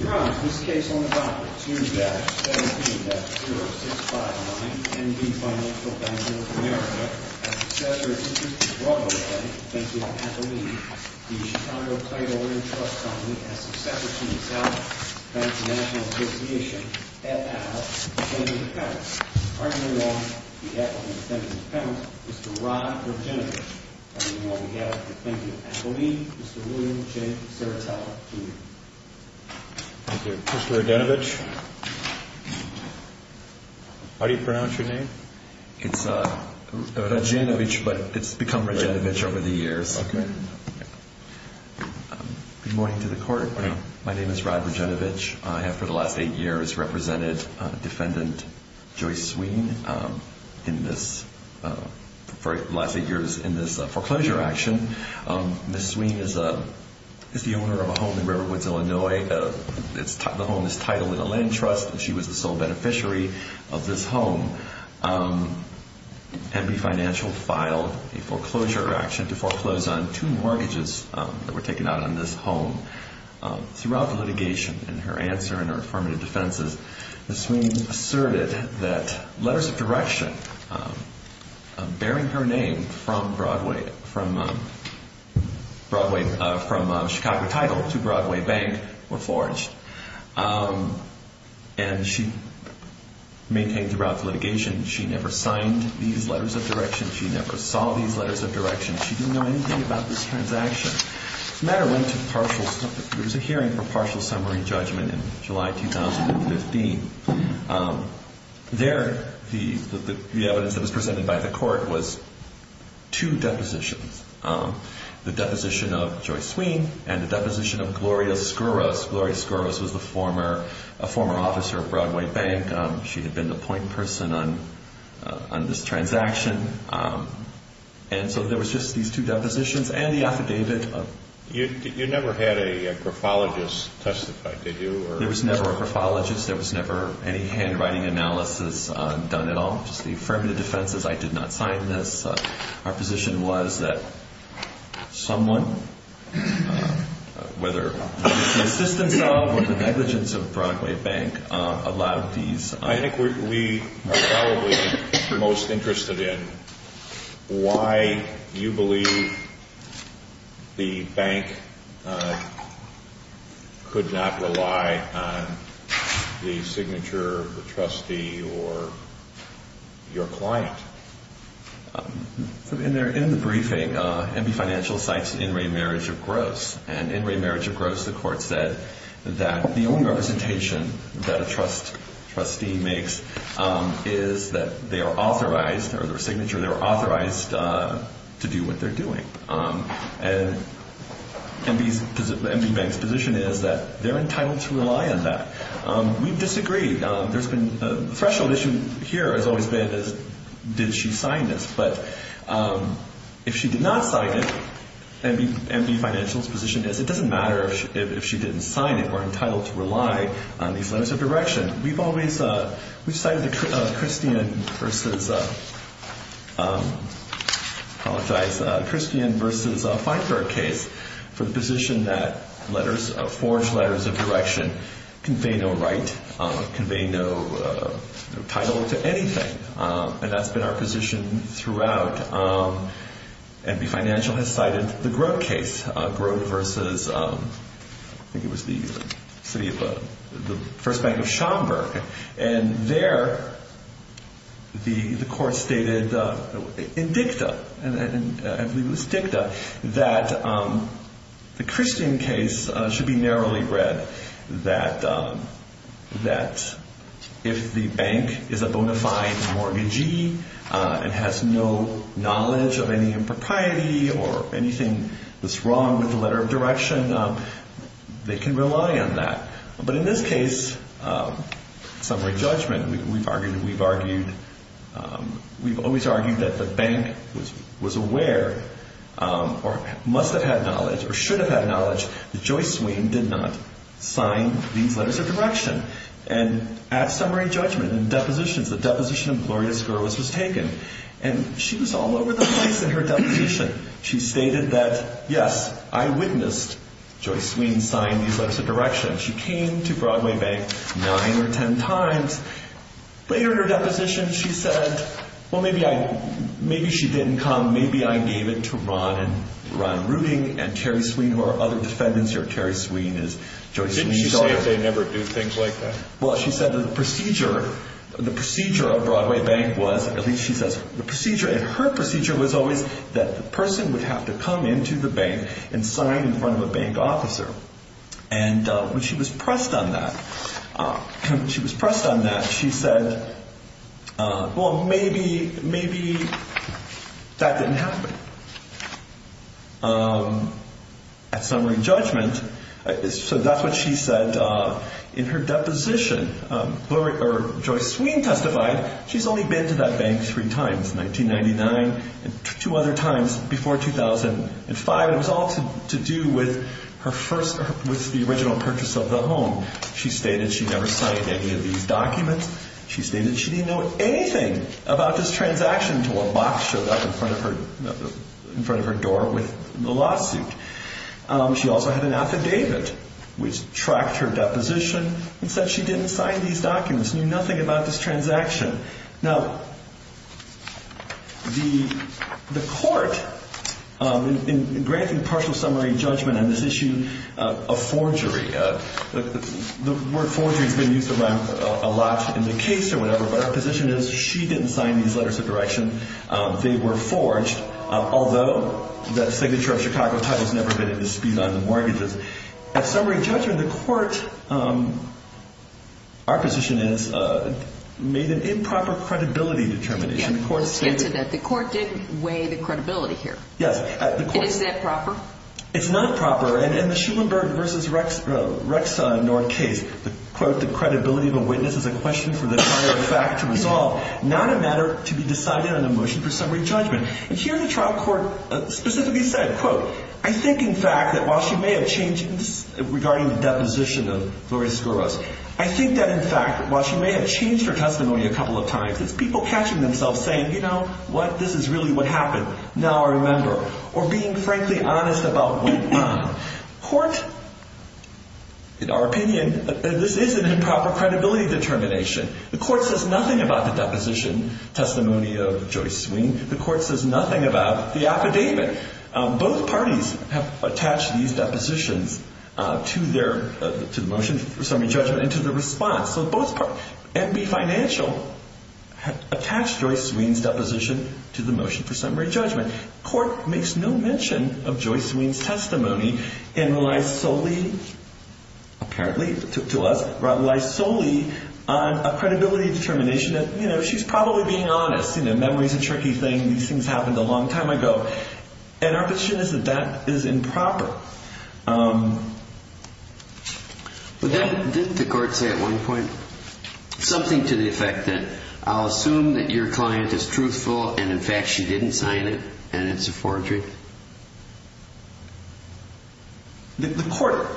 Your Honor, this case on the docket, 2-17-0659, N.B. Financial Bank of North America, has successor and interest to Broadway Bank, defense attorney at the lead. The Chicago Title Land Trust Company has successor to the South Bank National Association, at the house, defendant in defense. Partner in law, the actual defendant in defense, Mr. Rod Virginia. Thank you. Mr. Rodjanovich, how do you pronounce your name? It's Rodjanovich, but it's become Rodjanovich over the years. Okay. Good morning to the court. Good morning. My name is Rod Rodjanovich. I have, for the last eight years, represented Defendant Joyce Sweene in this, for the last eight years, in this foreclosure action. Ms. Sweene is the owner of a home in Riverwoods, Illinois. The home is titled in the land trust, and she was the sole beneficiary of this home. N.B. Financial filed a foreclosure action to foreclose on two mortgages that were taken out on this home. Throughout the litigation, in her answer and her affirmative defenses, Ms. Sweene asserted that letters of direction bearing her name from Broadway, from Chicago Title to Broadway Bank were forged, and she maintained throughout the litigation she never signed these letters of direction. She never saw these letters of direction. She didn't know anything about this transaction. As a matter of fact, there was a hearing for partial summary judgment in July 2015. There, the evidence that was presented by the court was two depositions, the deposition of Joyce Sweene and the deposition of Gloria Skouros. Gloria Skouros was the former officer of Broadway Bank. She had been the point person on this transaction. And so there was just these two depositions and the affidavit. You never had a graphologist testify, did you? There was never a graphologist. There was never any handwriting analysis done at all. Just the affirmative defenses, I did not sign this. Our position was that someone, whether it was the assistance of or the negligence of Broadway Bank, allowed these. I think we are probably most interested in why you believe the bank could not rely on the signature of the trustee or your client. In the briefing, MB Financial cites in re marriage of gross, and in re marriage of gross the court said that the only representation that a trustee makes is that they are authorized, or their signature, they are authorized to do what they're doing. And MB Bank's position is that they're entitled to rely on that. We disagree. The threshold issue here has always been, did she sign this? But if she did not sign it, MB Financial's position is it doesn't matter if she didn't sign it, we're entitled to rely on these letters of direction. We've cited the Christian versus Feinberg case for the position that letters, forged letters of direction convey no right, convey no title to anything. And that's been our position throughout. MB Financial has cited the Grote case, Grote versus, I think it was the city of, the first bank of Schomburg. And there the court stated in dicta, I believe it was dicta, that the Christian case should be narrowly read, that if the bank is a bona fide mortgagee and has no knowledge of any impropriety or anything that's wrong with the letter of direction, they can rely on that. But in this case, summary judgment, we've argued, we've argued, we've always argued that the bank was aware or must have had knowledge or should have had knowledge that Joyce Sweene did not sign these letters of direction. And at summary judgment and depositions, the deposition of Gloria Skorowicz was taken. And she was all over the place in her deposition. She stated that, yes, I witnessed Joyce Sweene sign these letters of direction. She came to Broadway Bank nine or ten times. Later in her deposition, she said, well, maybe I, maybe she didn't come, maybe I gave it to Ron Rooting and Terry Sweene, who are other defendants here. Terry Sweene is Joyce Sweene's daughter. Didn't she say they never do things like that? Well, she said the procedure, the procedure of Broadway Bank was, at least she says, the procedure, and her procedure was always that the person would have to come into the bank and sign in front of a bank officer. And when she was pressed on that, when she was pressed on that, she said, well, maybe, maybe that didn't happen. At summary judgment, so that's what she said in her deposition. Joyce Sweene testified she's only been to that bank three times, 1999 and two other times before 2005. It was all to do with her first, with the original purchase of the home. She stated she never signed any of these documents. She stated she didn't know anything about this transaction until a box showed up in front of her door with the lawsuit. She also had an affidavit which tracked her deposition and said she didn't sign these documents, knew nothing about this transaction. Now, the court, in granting partial summary judgment on this issue of forgery, the word forgery has been used a lot in the case or whatever, but her position is she didn't sign these letters of direction. They were forged, although that signature of Chicago Title has never been a dispute on the mortgages. At summary judgment, the court, our position is, made an improper credibility determination. Let's get to that. The court didn't weigh the credibility here. Yes. Is that proper? It's not proper. In the Schulenberg v. Rexhorn case, the, quote, the credibility of a witness is a question for the prior fact to resolve, not a matter to be decided on a motion for summary judgment. And here the trial court specifically said, quote, I think, in fact, that while she may have changed, regarding the deposition of Gloria Skouros, I think that, in fact, while she may have changed her testimony a couple of times, it's people catching themselves saying, you know, what, this is really what happened. Now I remember. Or being frankly honest about what went on. Court, in our opinion, this is an improper credibility determination. The court says nothing about the deposition testimony of Joyce Sween. The court says nothing about the affidavit. Both parties have attached these depositions to their, to the motion for summary judgment and to the response. So both parties, MB Financial attached Joyce Sween's deposition to the motion for summary judgment. Court makes no mention of Joyce Sween's testimony and relies solely, apparently to us, relies solely on a credibility determination that, you know, she's probably being honest. You know, memory's a tricky thing. These things happened a long time ago. And our position is that that is improper. But didn't the court say at one point something to the effect that I'll assume that your client is truthful and, in fact, she didn't sign it and it's a forgery? The court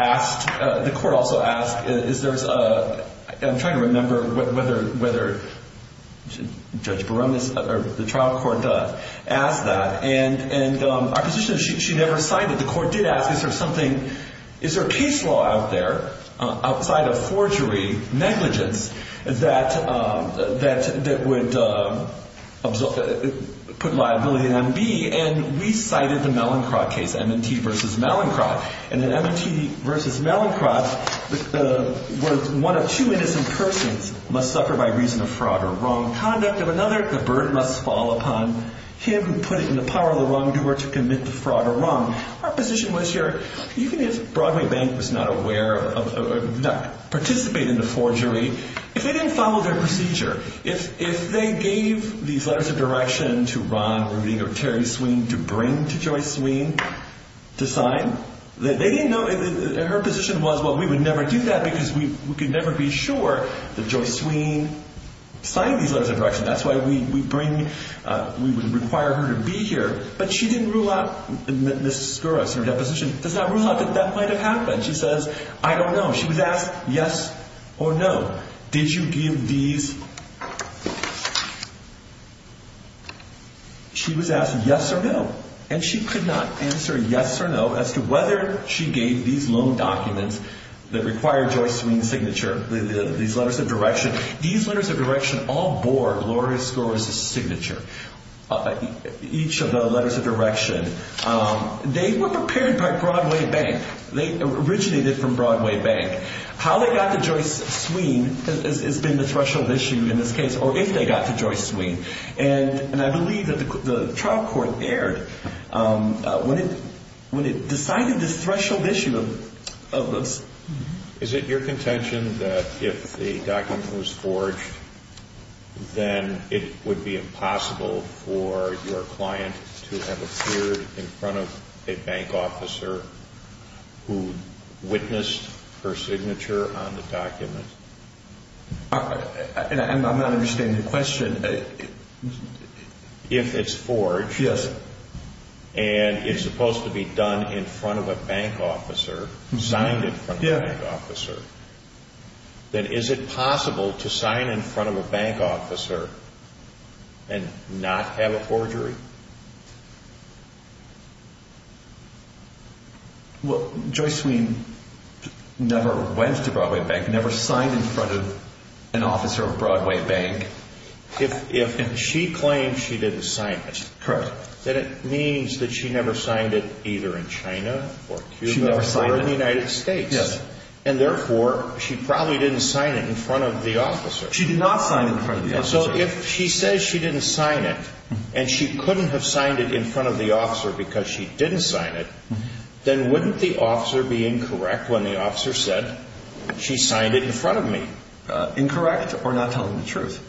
asked, the court also asked, is there a, I'm trying to remember whether Judge Barones or the trial court asked that. And our position is she never signed it. The court did ask is there something, is there a case law out there, outside of forgery, negligence, that would put liability on MB? And we cited the Mellencroft case, M&T versus Mellencroft. And in M&T versus Mellencroft, where one of two innocent persons must suffer by reason of fraud or wrong conduct of another, the burden must fall upon him who put it in the power of the wrongdoer to commit the fraud or wrong. Our position was here, even if Broadway Bank was not aware of, did not participate in the forgery, if they didn't follow their procedure, if they gave these letters of direction to Ron Rooting or Terry Sweene to bring to Joyce Sweene to sign, they didn't know, her position was, well, we would never do that because we could never be sure that Joyce Sweene signed these letters of direction. That's why we bring, we would require her to be here. But she didn't rule out, Ms. Skouras, in her deposition, does not rule out that that might have happened. She says, I don't know. She was asked yes or no. Did you give these? She was asked yes or no. And she could not answer yes or no as to whether she gave these loan documents that required Joyce Sweene's signature, these letters of direction. These letters of direction all bore Gloria Skouras' signature. Each of the letters of direction, they were prepared by Broadway Bank. They originated from Broadway Bank. How they got to Joyce Sweene has been the threshold issue in this case, or if they got to Joyce Sweene. And I believe that the trial court erred when it decided this threshold issue. Is it your contention that if the document was forged, then it would be impossible for your client to have appeared in front of a bank officer who witnessed her signature on the document? I'm not understanding the question. If it's forged, and it's supposed to be done in front of a bank officer, signed in front of a bank officer, then is it possible to sign in front of a bank officer and not have a forgery? Well, Joyce Sweene never went to Broadway Bank, never signed in front of an officer of Broadway Bank. If she claims she didn't sign it, then it means that she never signed it either in China or Cuba or the United States. And therefore, she probably didn't sign it in front of the officer. She did not sign it in front of the officer. So if she says she didn't sign it, and she couldn't have signed it in front of the officer because she didn't sign it, then wouldn't the officer be incorrect when the officer said, she signed it in front of me? Incorrect or not telling the truth?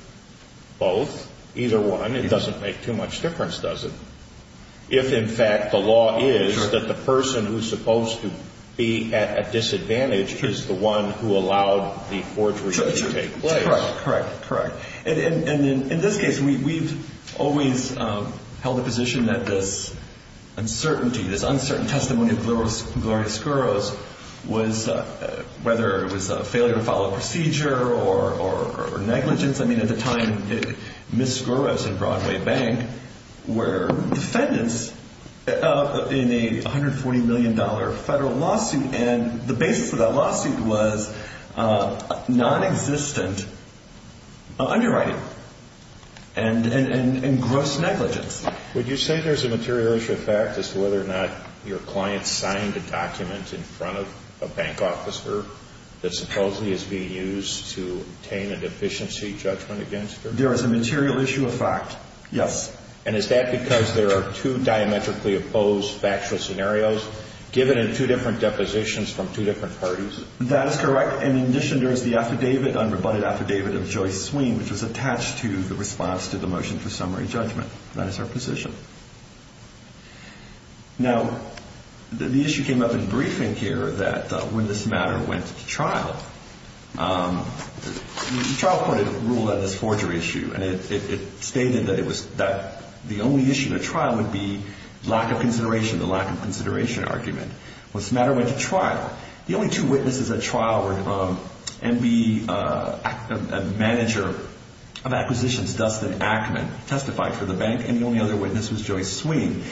Both, either one. It doesn't make too much difference, does it? If, in fact, the law is that the person who's supposed to be at a disadvantage is the one who allowed the forgery to take place. Correct, correct, correct. And in this case, we've always held the position that this uncertainty, this uncertain testimony of Gloria Skouros was, whether it was a failure to follow procedure or negligence. I mean, at the time, Ms. Skouros and Broadway Bank were defendants in a $140 million federal lawsuit, and the basis for that lawsuit was nonexistent underwriting and gross negligence. Would you say there's a material issue of fact as to whether or not your client signed a document in front of a bank officer that supposedly is being used to obtain a deficiency judgment against her? There is a material issue of fact, yes. And is that because there are two diametrically opposed factual scenarios given in two different depositions from two different parties? That is correct. In addition, there is the affidavit, unrebutted affidavit of Joyce Sween, which was attached to the response to the motion for summary judgment. That is her position. Now, the issue came up in briefing here that when this matter went to trial, the trial court had ruled on this forgery issue, and it stated that the only issue in the trial would be lack of consideration, the lack of consideration argument. When this matter went to trial, the only two witnesses at trial were MB manager of acquisitions, Dustin Ackman, testified for the bank, and the only other witness was Joyce Sween.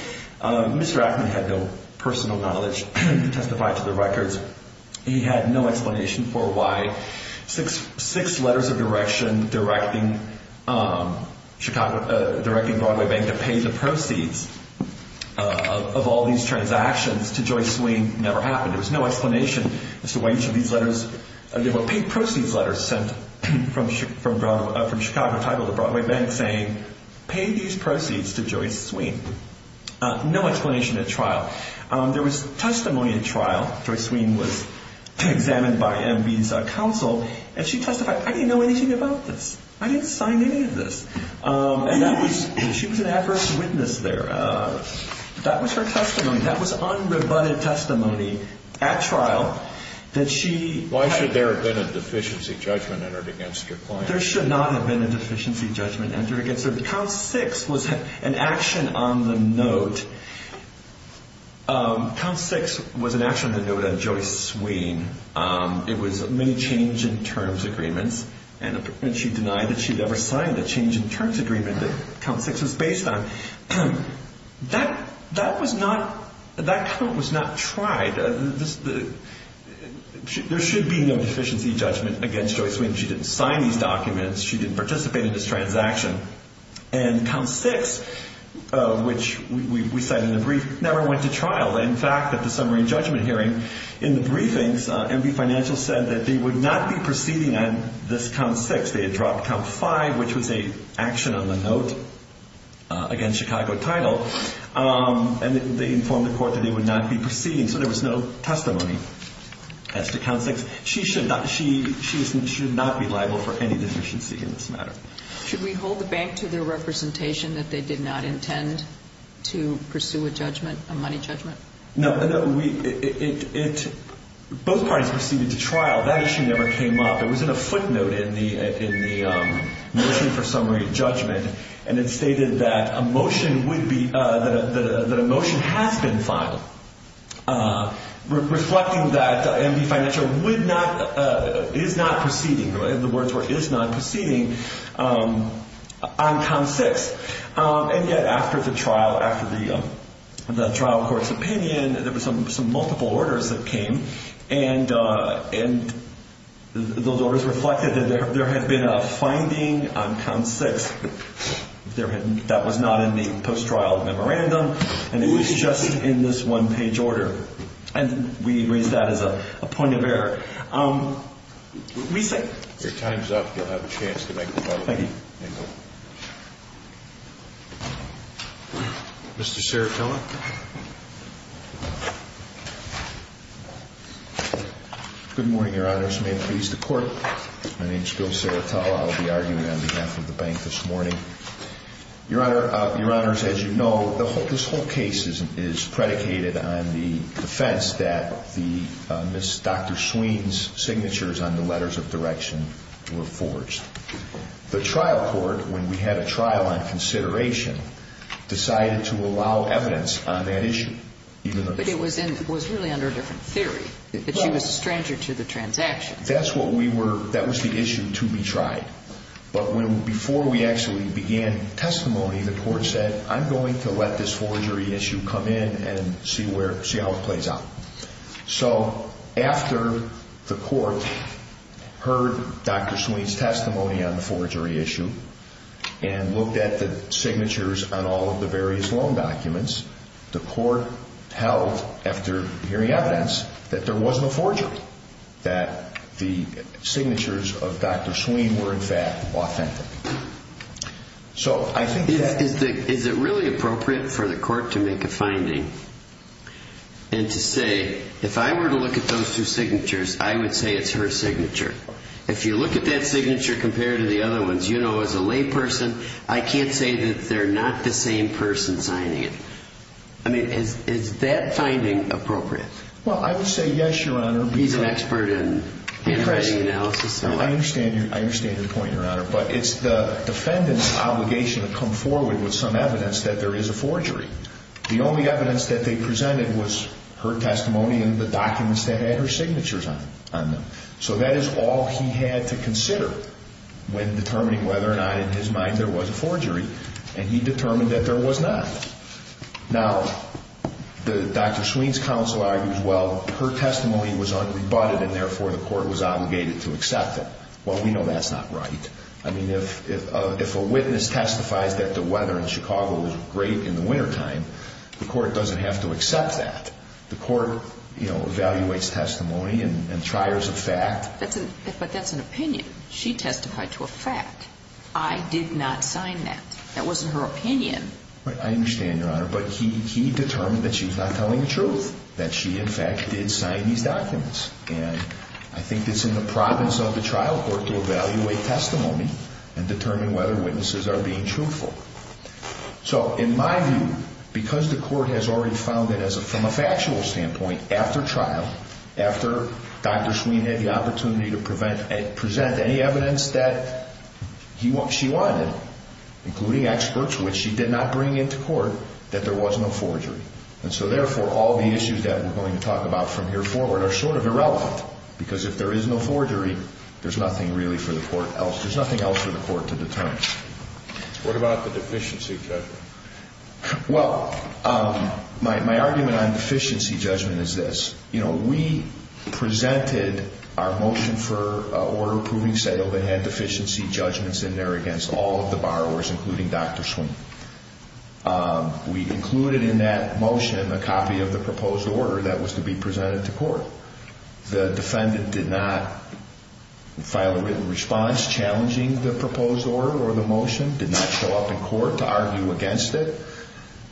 Mr. Ackman had no personal knowledge to testify to the records. He had no explanation for why six letters of direction directing Broadway Bank to pay the proceeds of all these transactions to Joyce Sween never happened. There was no explanation as to why each of these letters, paid proceeds letters sent from Chicago Title to Broadway Bank saying, pay these proceeds to Joyce Sween. No explanation at trial. There was testimony at trial. Joyce Sween was examined by MB's counsel, and she testified, I didn't know anything about this. I didn't sign any of this. And she was an adverse witness there. That was her testimony. That was unrebutted testimony at trial that she had. Why should there have been a deficiency judgment entered against your client? There should not have been a deficiency judgment entered against her. Count six was an action on the note. Count six was an action on the note of Joyce Sween. It was many change in terms agreements, and she denied that she had ever signed the change in terms agreement that count six was based on. That was not, that count was not tried. There should be no deficiency judgment against Joyce Sween. She didn't sign these documents. She didn't participate in this transaction. And count six, which we cited in the brief, never went to trial. In fact, at the summary judgment hearing in the briefings, MB Financial said that they would not be proceeding on this count six. They had dropped count five, which was an action on the note against Chicago Title, and they informed the court that they would not be proceeding. So there was no testimony as to count six. She should not be liable for any deficiency in this matter. Should we hold the bank to their representation that they did not intend to pursue a judgment, a money judgment? No. Both parties proceeded to trial. That issue never came up. It was in a footnote in the motion for summary judgment, and it stated that a motion would be, that a motion has been filed, reflecting that MB Financial would not, is not proceeding, the words were is not proceeding, on count six. And yet after the trial, after the trial court's opinion, there were some multiple orders that came, and those orders reflected that there had been a finding on count six that was not in the post-trial memorandum, and it was just in this one-page order. And we raise that as a point of error. If your time's up, you'll have a chance to make the vote. Thank you. Mr. Seratolla. Good morning, Your Honors. May it please the Court. My name's Bill Seratolla. I will be arguing on behalf of the bank this morning. Your Honor, Your Honors, as you know, this whole case is predicated on the defense that Dr. Sween's signatures on the letters of direction were forged. The trial court, when we had a trial on consideration, decided to allow evidence on that issue. But it was really under a different theory, that she was a stranger to the transaction. That's what we were, that was the issue to be tried. But before we actually began testimony, the court said, I'm going to let this forgery issue come in and see how it plays out. So after the court heard Dr. Sween's testimony on the forgery issue and looked at the signatures on all of the various loan documents, the court held, after hearing evidence, that there was no forgery, that the signatures of Dr. Sween were, in fact, authentic. So I think that... Is it really appropriate for the court to make a finding and to say, if I were to look at those two signatures, I would say it's her signature? If you look at that signature compared to the other ones, you know, as a layperson, I can't say that they're not the same person signing it. I mean, is that finding appropriate? Well, I would say yes, Your Honor. He's an expert in handwriting analysis. I understand your point, Your Honor. But it's the defendant's obligation to come forward with some evidence that there is a forgery. The only evidence that they presented was her testimony and the documents that had her signatures on them. So that is all he had to consider when determining whether or not, in his mind, there was a forgery. And he determined that there was not. Now, Dr. Sween's counsel argues, well, her testimony was unrebutted and therefore the court was obligated to accept it. Well, we know that's not right. I mean, if a witness testifies that the weather in Chicago was great in the wintertime, the court doesn't have to accept that. The court, you know, evaluates testimony and triers a fact. But that's an opinion. She testified to a fact. I did not sign that. That wasn't her opinion. I understand, Your Honor. But he determined that she was not telling the truth, that she, in fact, did sign these documents. And I think it's in the province of the trial court to evaluate testimony and determine whether witnesses are being truthful. So, in my view, because the court has already found that, from a factual standpoint, after trial, after Dr. Sween had the opportunity to present any evidence that she wanted, including experts which she did not bring into court, that there was no forgery. And so, therefore, all the issues that we're going to talk about from here forward are sort of irrelevant because if there is no forgery, there's nothing really for the court else. There's nothing else for the court to determine. What about the deficiency judgment? Well, my argument on deficiency judgment is this. You know, we presented our motion for order approving settlement that had deficiency judgments in there against all of the borrowers, including Dr. Sween. We included in that motion a copy of the proposed order that was to be presented to court. The defendant did not file a written response challenging the proposed order or the motion, did not show up in court to argue against it,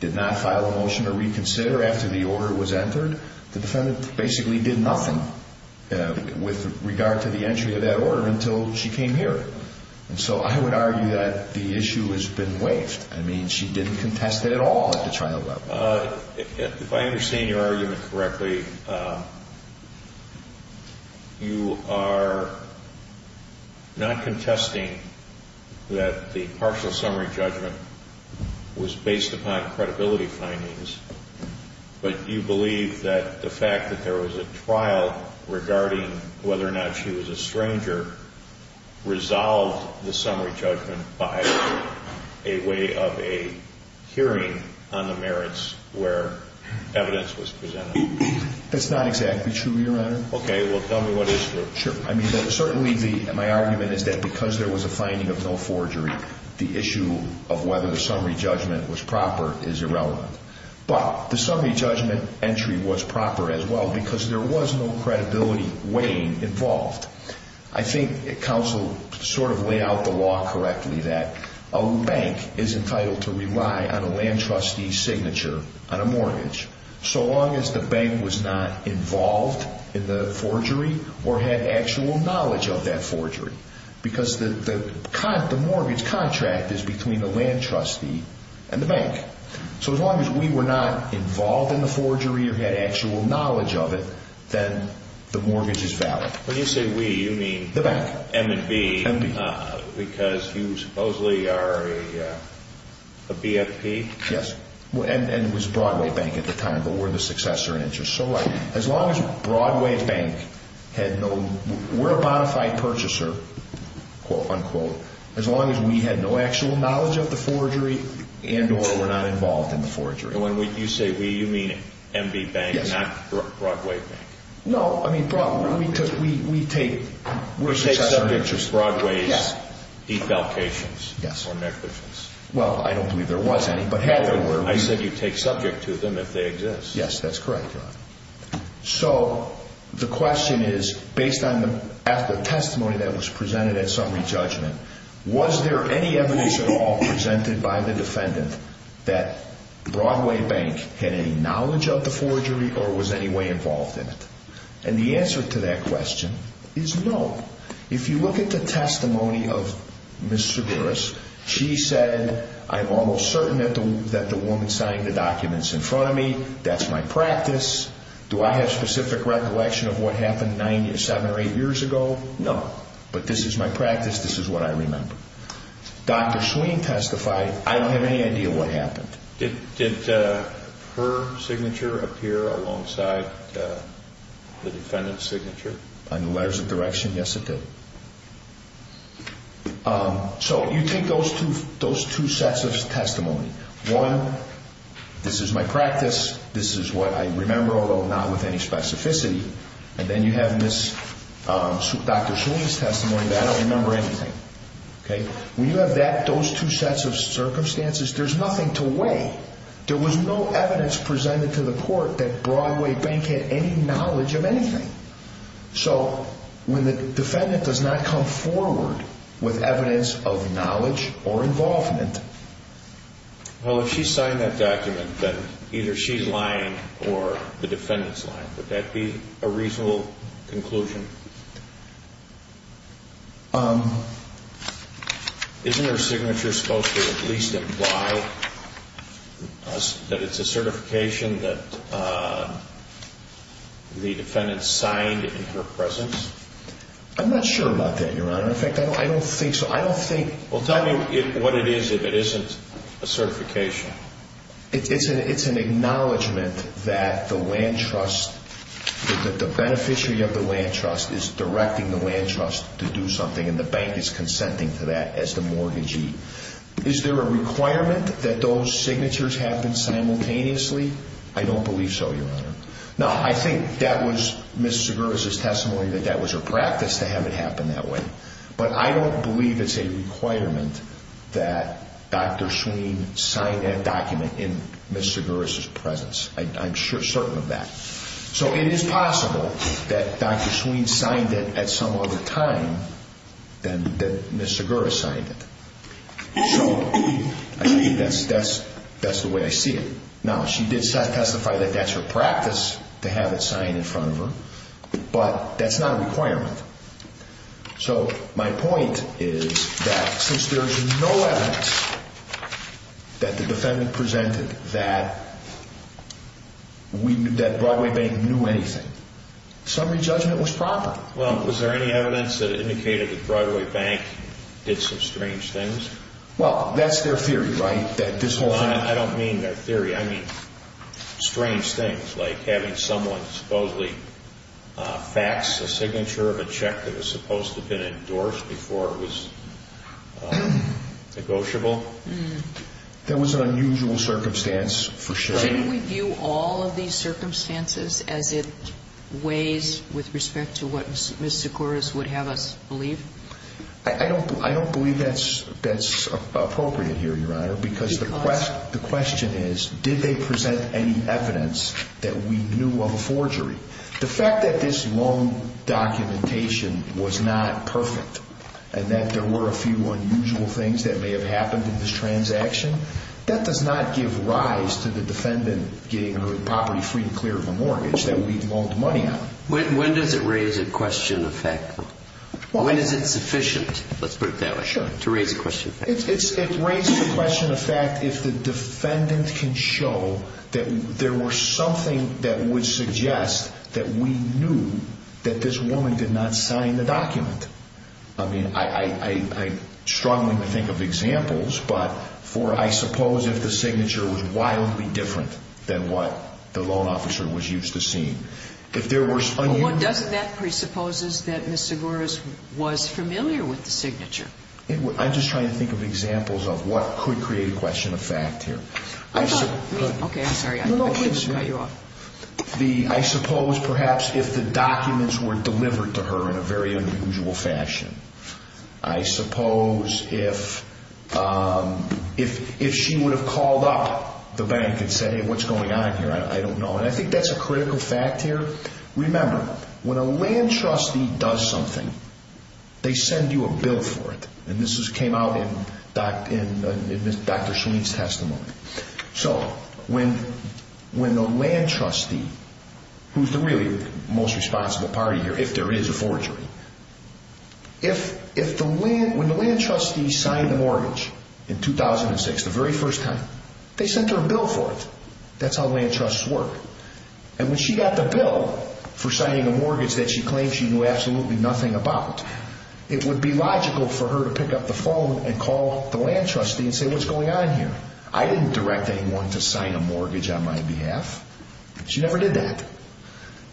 did not file a motion to reconsider after the order was entered. The defendant basically did nothing with regard to the entry of that order until she came here. And so I would argue that the issue has been waived. I mean, she didn't contest it at all at the trial level. If I understand your argument correctly, you are not contesting that the partial summary judgment was based upon credibility findings, but you believe that the fact that there was a trial regarding whether or not she was a stranger resolved the summary judgment by a way of a hearing on the merits where evidence was presented. That's not exactly true, Your Honor. Okay. Well, tell me what is true. Sure. I mean, certainly my argument is that because there was a finding of no forgery, the issue of whether the summary judgment was proper is irrelevant. But the summary judgment entry was proper as well because there was no credibility weighing involved. I think counsel sort of laid out the law correctly that a bank is entitled to rely on a land trustee's signature on a mortgage so long as the bank was not involved in the forgery or had actual knowledge of that forgery. Because the mortgage contract is between the land trustee and the bank. So as long as we were not involved in the forgery or had actual knowledge of it, then the mortgage is valid. When you say we, you mean? The bank. M&B. M&B. Because you supposedly are a BFP? Yes. And it was Broadway Bank at the time, but we're the successor interest. You're so right. As long as Broadway Bank had no, we're a bonafide purchaser, unquote, as long as we had no actual knowledge of the forgery and or were not involved in the forgery. And when you say we, you mean M&B Bank, not Broadway Bank? No. I mean, we take, we're a successor interest. You take subject to Broadway's defalcations or negligence? Well, I don't believe there was any, but had there been, we would. I said you take subject to them if they exist. Yes, that's correct, Your Honor. So the question is, based on the testimony that was presented at summary judgment, was there any evidence at all presented by the defendant that Broadway Bank had any knowledge of the forgery or was any way involved in it? And the answer to that question is no. If you look at the testimony of Ms. Severus, she said, I'm almost certain that the woman signed the documents in front of me. That's my practice. Do I have specific recollection of what happened nine or seven or eight years ago? No. But this is my practice. This is what I remember. Dr. Sween testified, I don't have any idea what happened. Did her signature appear alongside the defendant's signature? On the letters of direction, yes, it did. So you take those two sets of testimony. One, this is my practice. This is what I remember, although not with any specificity. And then you have Dr. Sween's testimony, but I don't remember anything. When you have those two sets of circumstances, there's nothing to weigh. There was no evidence presented to the court that Broadway Bank had any knowledge of anything. So when the defendant does not come forward with evidence of knowledge or involvement. Well, if she signed that document, then either she's lying or the defendant's lying. Would that be a reasonable conclusion? Isn't her signature supposed to at least imply that it's a certification that the defendant signed in her presence? I'm not sure about that, Your Honor. In fact, I don't think so. Well, tell me what it is if it isn't a certification. It's an acknowledgment that the beneficiary of the land trust is directing the land trust to do something and the bank is consenting to that as the mortgagee. Is there a requirement that those signatures happen simultaneously? I don't believe so, Your Honor. Now, I think that was Ms. Segura's testimony that that was her practice to have it happen that way. But I don't believe it's a requirement that Dr. Sween sign that document in Ms. Segura's presence. I'm certain of that. So it is possible that Dr. Sween signed it at some other time than that Ms. Segura signed it. So I think that's the way I see it. Now, she did testify that that's her practice to have it signed in front of her, but that's not a requirement. So my point is that since there's no evidence that the defendant presented that Broadway Bank knew anything, summary judgment was proper. Well, was there any evidence that indicated that Broadway Bank did some strange things? Well, that's their theory, right? I don't mean their theory. I mean strange things like having someone supposedly fax a signature of a check that was supposed to have been endorsed before it was negotiable. There was an unusual circumstance for sure. Shouldn't we view all of these circumstances as it weighs with respect to what Ms. Segura would have us believe? I don't believe that's appropriate here, Your Honor, because the question is, did they present any evidence that we knew of a forgery? The fact that this loan documentation was not perfect, and that there were a few unusual things that may have happened in this transaction, that does not give rise to the defendant getting her property free and clear of a mortgage that we've loaned money on. When does it raise a question of fact? When is it sufficient, let's put it that way, to raise a question of fact? It raises a question of fact if the defendant can show that there was something that would suggest that we knew that this woman did not sign the document. I mean, I'm struggling to think of examples, but I suppose if the signature was wildly different than what the loan officer was used to seeing. Well, doesn't that presuppose that Ms. Segura was familiar with the signature? I'm just trying to think of examples of what could create a question of fact here. Okay, I'm sorry. I shouldn't cut you off. I suppose perhaps if the documents were delivered to her in a very unusual fashion. I suppose if she would have called up the bank and said, Hey, what's going on here? I don't know. And I think that's a critical fact here. Remember, when a land trustee does something, they send you a bill for it. And this came out in Dr. Schleen's testimony. So, when the land trustee, who's really the most responsible party here, if there is a forgery, if the land, when the land trustee signed the mortgage in 2006, the very first time, they sent her a bill for it. That's how land trusts work. And when she got the bill for signing a mortgage that she claimed she knew absolutely nothing about, it would be logical for her to pick up the phone and call the land trustee and say, What's going on here? I didn't direct anyone to sign a mortgage on my behalf. She never did that.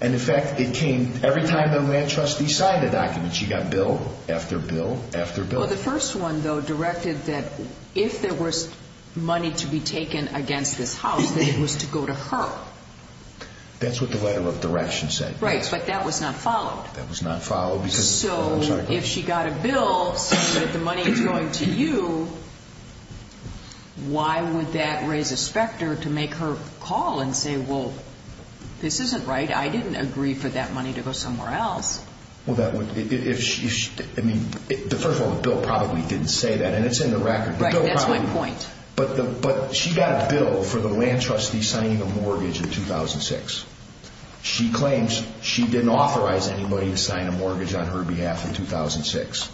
And, in fact, it came every time the land trustee signed a document. She got bill after bill after bill. Well, the first one, though, directed that if there was money to be taken against this house, that it was to go to her. That's what the letter of direction said. Right, but that was not followed. That was not followed. So, if she got a bill saying that the money is going to you, why would that raise a specter to make her call and say, Well, this isn't right. I didn't agree for that money to go somewhere else. Well, that would, if she, I mean, first of all, the bill probably didn't say that, and it's in the record. Right, that's my point. But she got a bill for the land trustee signing a mortgage in 2006. She claims she didn't authorize anybody to sign a mortgage on her behalf in 2006.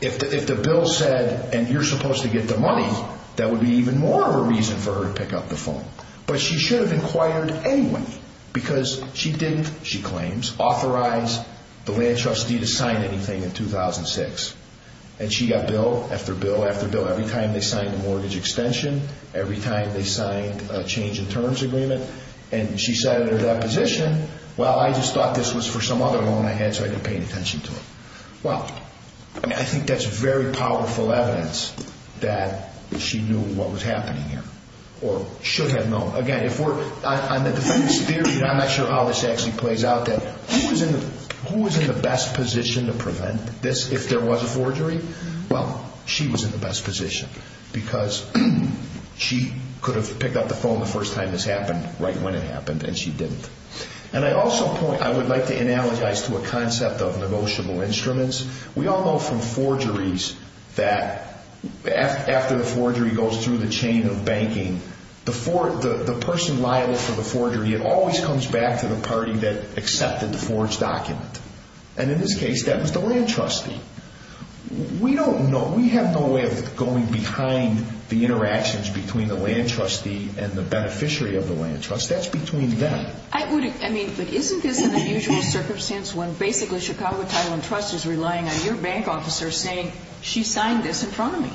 If the bill said, and you're supposed to get the money, that would be even more of a reason for her to pick up the phone. But she should have inquired anyway because she didn't, she claims, authorize the land trustee to sign anything in 2006. And she got bill after bill after bill every time they signed a mortgage extension, every time they signed a change in terms agreement. And she said in her deposition, Well, I just thought this was for some other loan I had, so I didn't pay any attention to it. Well, I mean, I think that's very powerful evidence that she knew what was happening here or should have known. Again, if we're, on the defendant's theory, and I'm not sure how this actually plays out, that who is in the best position to prevent this if there was a forgery? Well, she was in the best position because she could have picked up the phone the first time this happened right when it happened, and she didn't. And I also point, I would like to analogize to a concept of negotiable instruments. We all know from forgeries that after the forgery goes through the chain of banking, the person liable for the forgery, it always comes back to the party that accepted the forged document. And in this case, that was the land trustee. We don't know, we have no way of going behind the interactions between the land trustee and the beneficiary of the land trust. That's between them. I wouldn't, I mean, but isn't this an unusual circumstance when basically Chicago Title and Trust is relying on your bank officer saying, she signed this in front of me?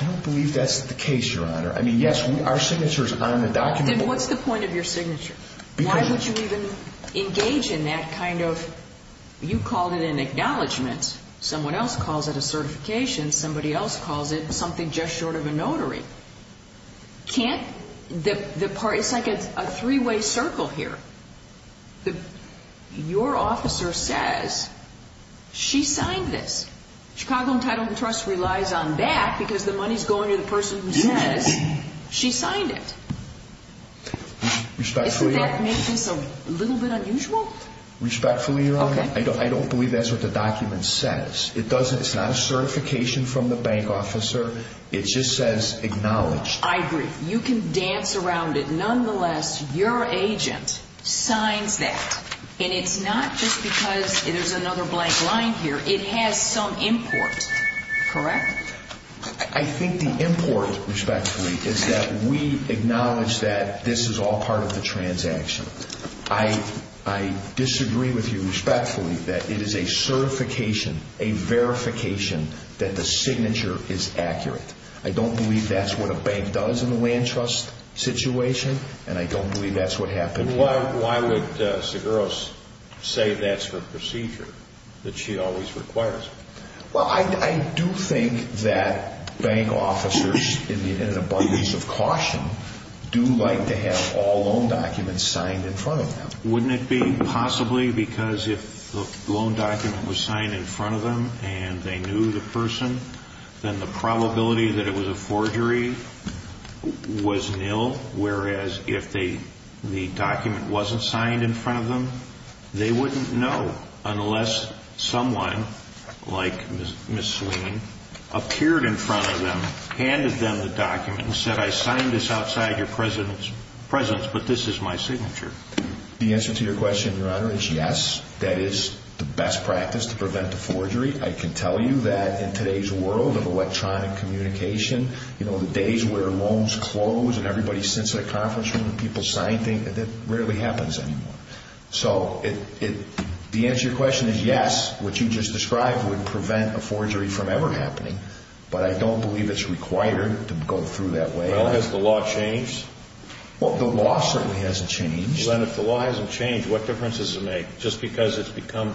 I don't believe that's the case, Your Honor. I mean, yes, our signature is on the document. Then what's the point of your signature? Why would you even engage in that kind of, you called it an acknowledgment, someone else calls it a certification, somebody else calls it something just short of a notary. Can't the party, it's like a three-way circle here. Your officer says she signed this. Chicago Title and Trust relies on that because the money is going to the person who says she signed it. Respectfully, Your Honor. Isn't that making this a little bit unusual? Respectfully, Your Honor, I don't believe that's what the document says. It doesn't, it's not a certification from the bank officer. It just says acknowledged. I agree. You can dance around it. Nonetheless, your agent signs that, and it's not just because there's another blank line here. It has some import, correct? I think the import, respectfully, is that we acknowledge that this is all part of the transaction. I disagree with you respectfully that it is a certification, a verification, that the signature is accurate. I don't believe that's what a bank does in the land trust situation, and I don't believe that's what happened here. Why would Seguros say that's her procedure, that she always requires it? Well, I do think that bank officers, in an abundance of caution, do like to have all loan documents signed in front of them. Wouldn't it be possibly because if the loan document was signed in front of them and they knew the person, then the probability that it was a forgery was nil, whereas if the document wasn't signed in front of them, they wouldn't know unless someone like Ms. Sweeney appeared in front of them, handed them the document, and said, I signed this outside your presence, but this is my signature. The answer to your question, Your Honor, is yes. That is the best practice to prevent a forgery. I can tell you that in today's world of electronic communication, the days where loans close and everybody sits in a conference room and people sign things, that rarely happens anymore. So the answer to your question is yes, what you just described would prevent a forgery from ever happening, but I don't believe it's required to go through that way. Well, has the law changed? Well, the law certainly hasn't changed. Then if the law hasn't changed, what difference does it make? Just because it's become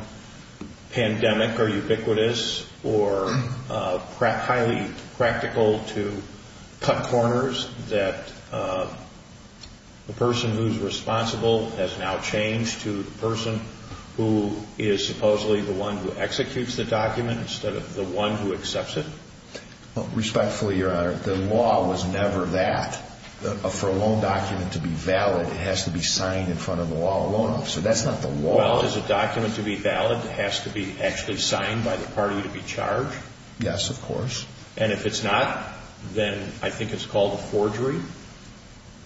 pandemic or ubiquitous or highly practical to cut corners, that the person who's responsible has now changed to the person who is supposedly the one who executes the document instead of the one who accepts it? Respectfully, Your Honor, the law was never that. For a loan document to be valid, it has to be signed in front of the law alone. So that's not the law. Well, is a document to be valid, it has to be actually signed by the party to be charged? Yes, of course. And if it's not, then I think it's called a forgery?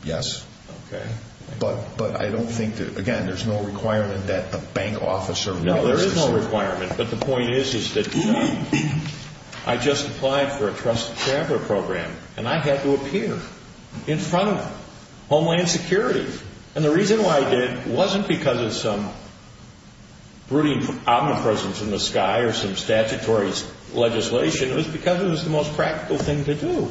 Yes. Okay. But I don't think that, again, there's no requirement that a bank officer would be able to see it. No, there is no requirement, but the point is that I just applied for a trusted traveler program and I had to appear in front of Homeland Security. And the reason why I did wasn't because of some brooding omnipresence in the sky or some statutory legislation. It was because it was the most practical thing to do.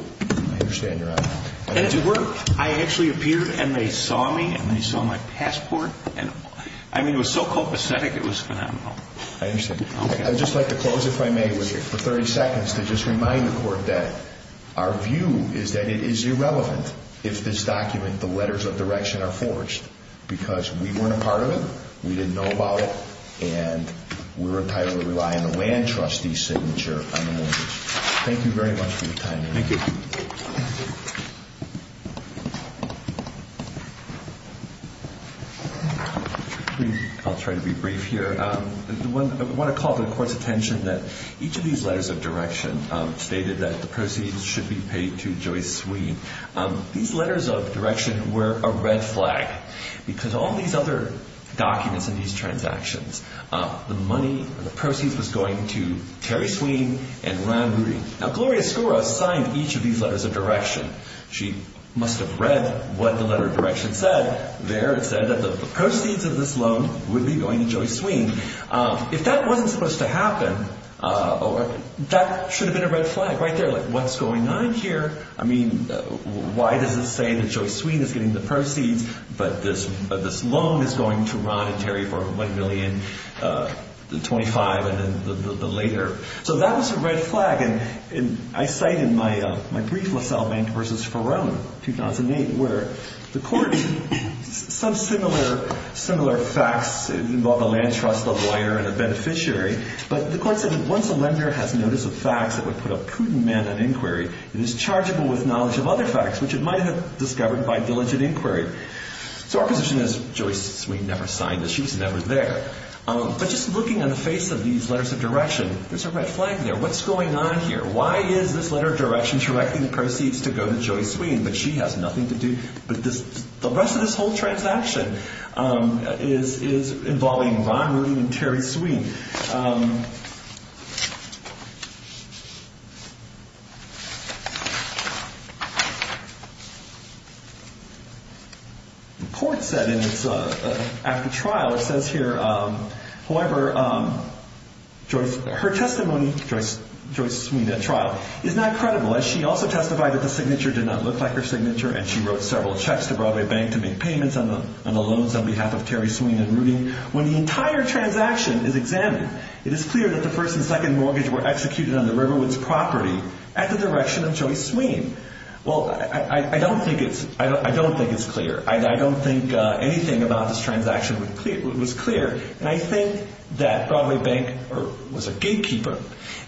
I understand, Your Honor. And it worked. I actually appeared and they saw me and they saw my passport. I mean, it was so copacetic it was phenomenal. I understand. Okay. I'd just like to close, if I may, for 30 seconds to just remind the Court that our view is that it is irrelevant if this document, the letters of direction, are forged because we weren't a part of it, we didn't know about it, and we're entitled to rely on the land trustee's signature on the mortgage. Thank you very much for your time, Your Honor. Thank you. I'll try to be brief here. I want to call the Court's attention that each of these letters of direction stated that the proceeds should be paid to Joyce Sweene. These letters of direction were a red flag because all these other documents in these transactions, the money, the proceeds, was going to Terry Sweene and Ryan Moody. Now, Gloria Escura signed each of these letters of direction. She must have read what the letter of direction said. There it said that the proceeds of this loan would be going to Joyce Sweene. If that wasn't supposed to happen, that should have been a red flag right there, like, what's going on here? I mean, why does it say that Joyce Sweene is getting the proceeds, but this loan is going to Ron and Terry for $1,025,000 and then the later? So that was a red flag, and I cite in my brief, LaSalle Bank v. Farone, 2008, where the Court, some similar facts involve a land trust, a lawyer, and a beneficiary, but the Court said that once a lender has notice of facts that would put a prudent man on inquiry, it is chargeable with knowledge of other facts which it might have discovered by diligent inquiry. So our position is Joyce Sweene never signed it. She's never there. But just looking on the face of these letters of direction, there's a red flag there. What's going on here? Why is this letter of direction directing the proceeds to go to Joyce Sweene, but she has nothing to do with this? The rest of this whole transaction is involving Ron Rudy and Terry Sweene. The Court said in its act of trial, it says here, however, her testimony, Joyce Sweene at trial, is not credible as she also testified that the signature did not look like her signature and she wrote several checks to Broadway Bank to make payments on the loans on behalf of Terry Sweene and Rudy. When the entire transaction is examined, it is clear that the first and second mortgage were executed on the Riverwoods property at the direction of Joyce Sweene. Well, I don't think it's clear. I don't think anything about this transaction was clear. And I think that Broadway Bank was a gatekeeper.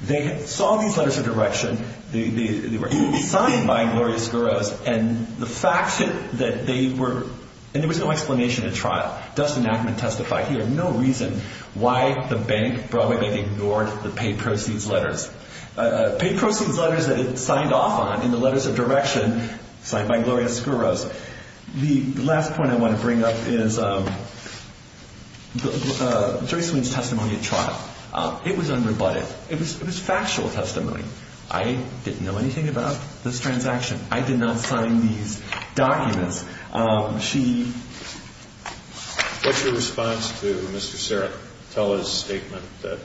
They saw these letters of direction. They were signed by Gloria Skouros and the fact that they were, and there was no explanation at trial. Dustin Ackman testified here. No reason why the bank, Broadway Bank, ignored the paid proceeds letters. Paid proceeds letters that it signed off on in the letters of direction signed by Gloria Skouros. The last point I want to bring up is Joyce Sweene's testimony at trial. It was unrebutted. It was factual testimony. I didn't know anything about this transaction. I did not sign these documents. What's your response to Mr. Saratella's statement that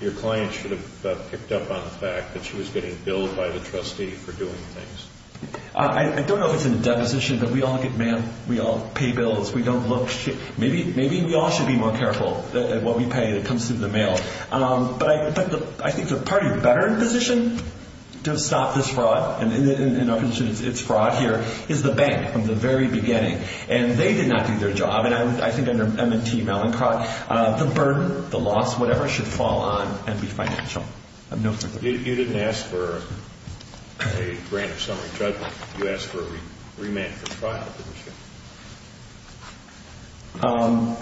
your client should have picked up on the fact that she was getting billed by the trustee for doing things? I don't know if it's in the deposition, but we all get mailed, we all pay bills, we don't look. Maybe we all should be more careful at what we pay that comes through the mail. But I think the party better in position to stop this fraud, and in our position it's fraud here, is the bank from the very beginning. And they did not do their job. And I think under M&T, Malincroft, the burden, the loss, whatever should fall on and be financial. You didn't ask for a grant of summary judgment. You asked for a remand for trial, didn't you?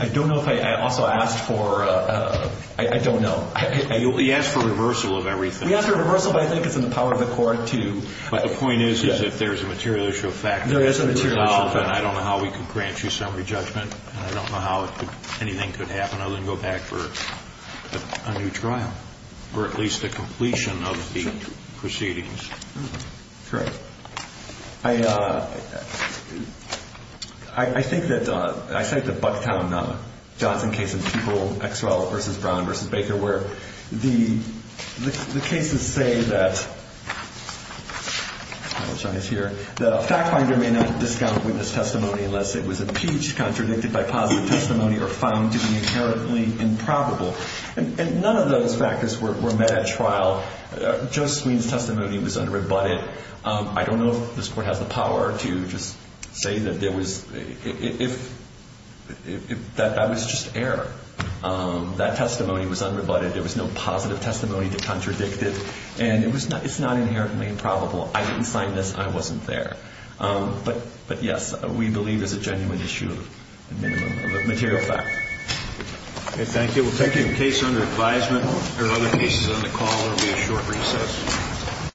I don't know if I also asked for, I don't know. He asked for reversal of everything. We asked for reversal, but I think it's in the power of the court to But the point is, is that there's a material issue of fact. There is a material issue of fact. I don't know how we could grant you summary judgment. And I don't know how anything could happen other than go back for a new trial, or at least the completion of the proceedings. Correct. I think that, I cite the Bucktown-Johnson case in Peeble v. Brown v. Baker, where the cases say that, I apologize here, the fact finder may not discount witness testimony unless it was impeached, contradicted by positive testimony, or found to be inherently improbable. And none of those factors were met at trial. Joe Sweeney's testimony was unrebutted. I don't know if this court has the power to just say that there was, that that was just error. That testimony was unrebutted. There was no positive testimony to contradict it. And it's not inherently improbable. I didn't sign this. I wasn't there. But, yes, we believe there's a genuine issue of material fact. Okay, thank you. We'll take your case under advisement. There are other cases on the call. There will be a short recess.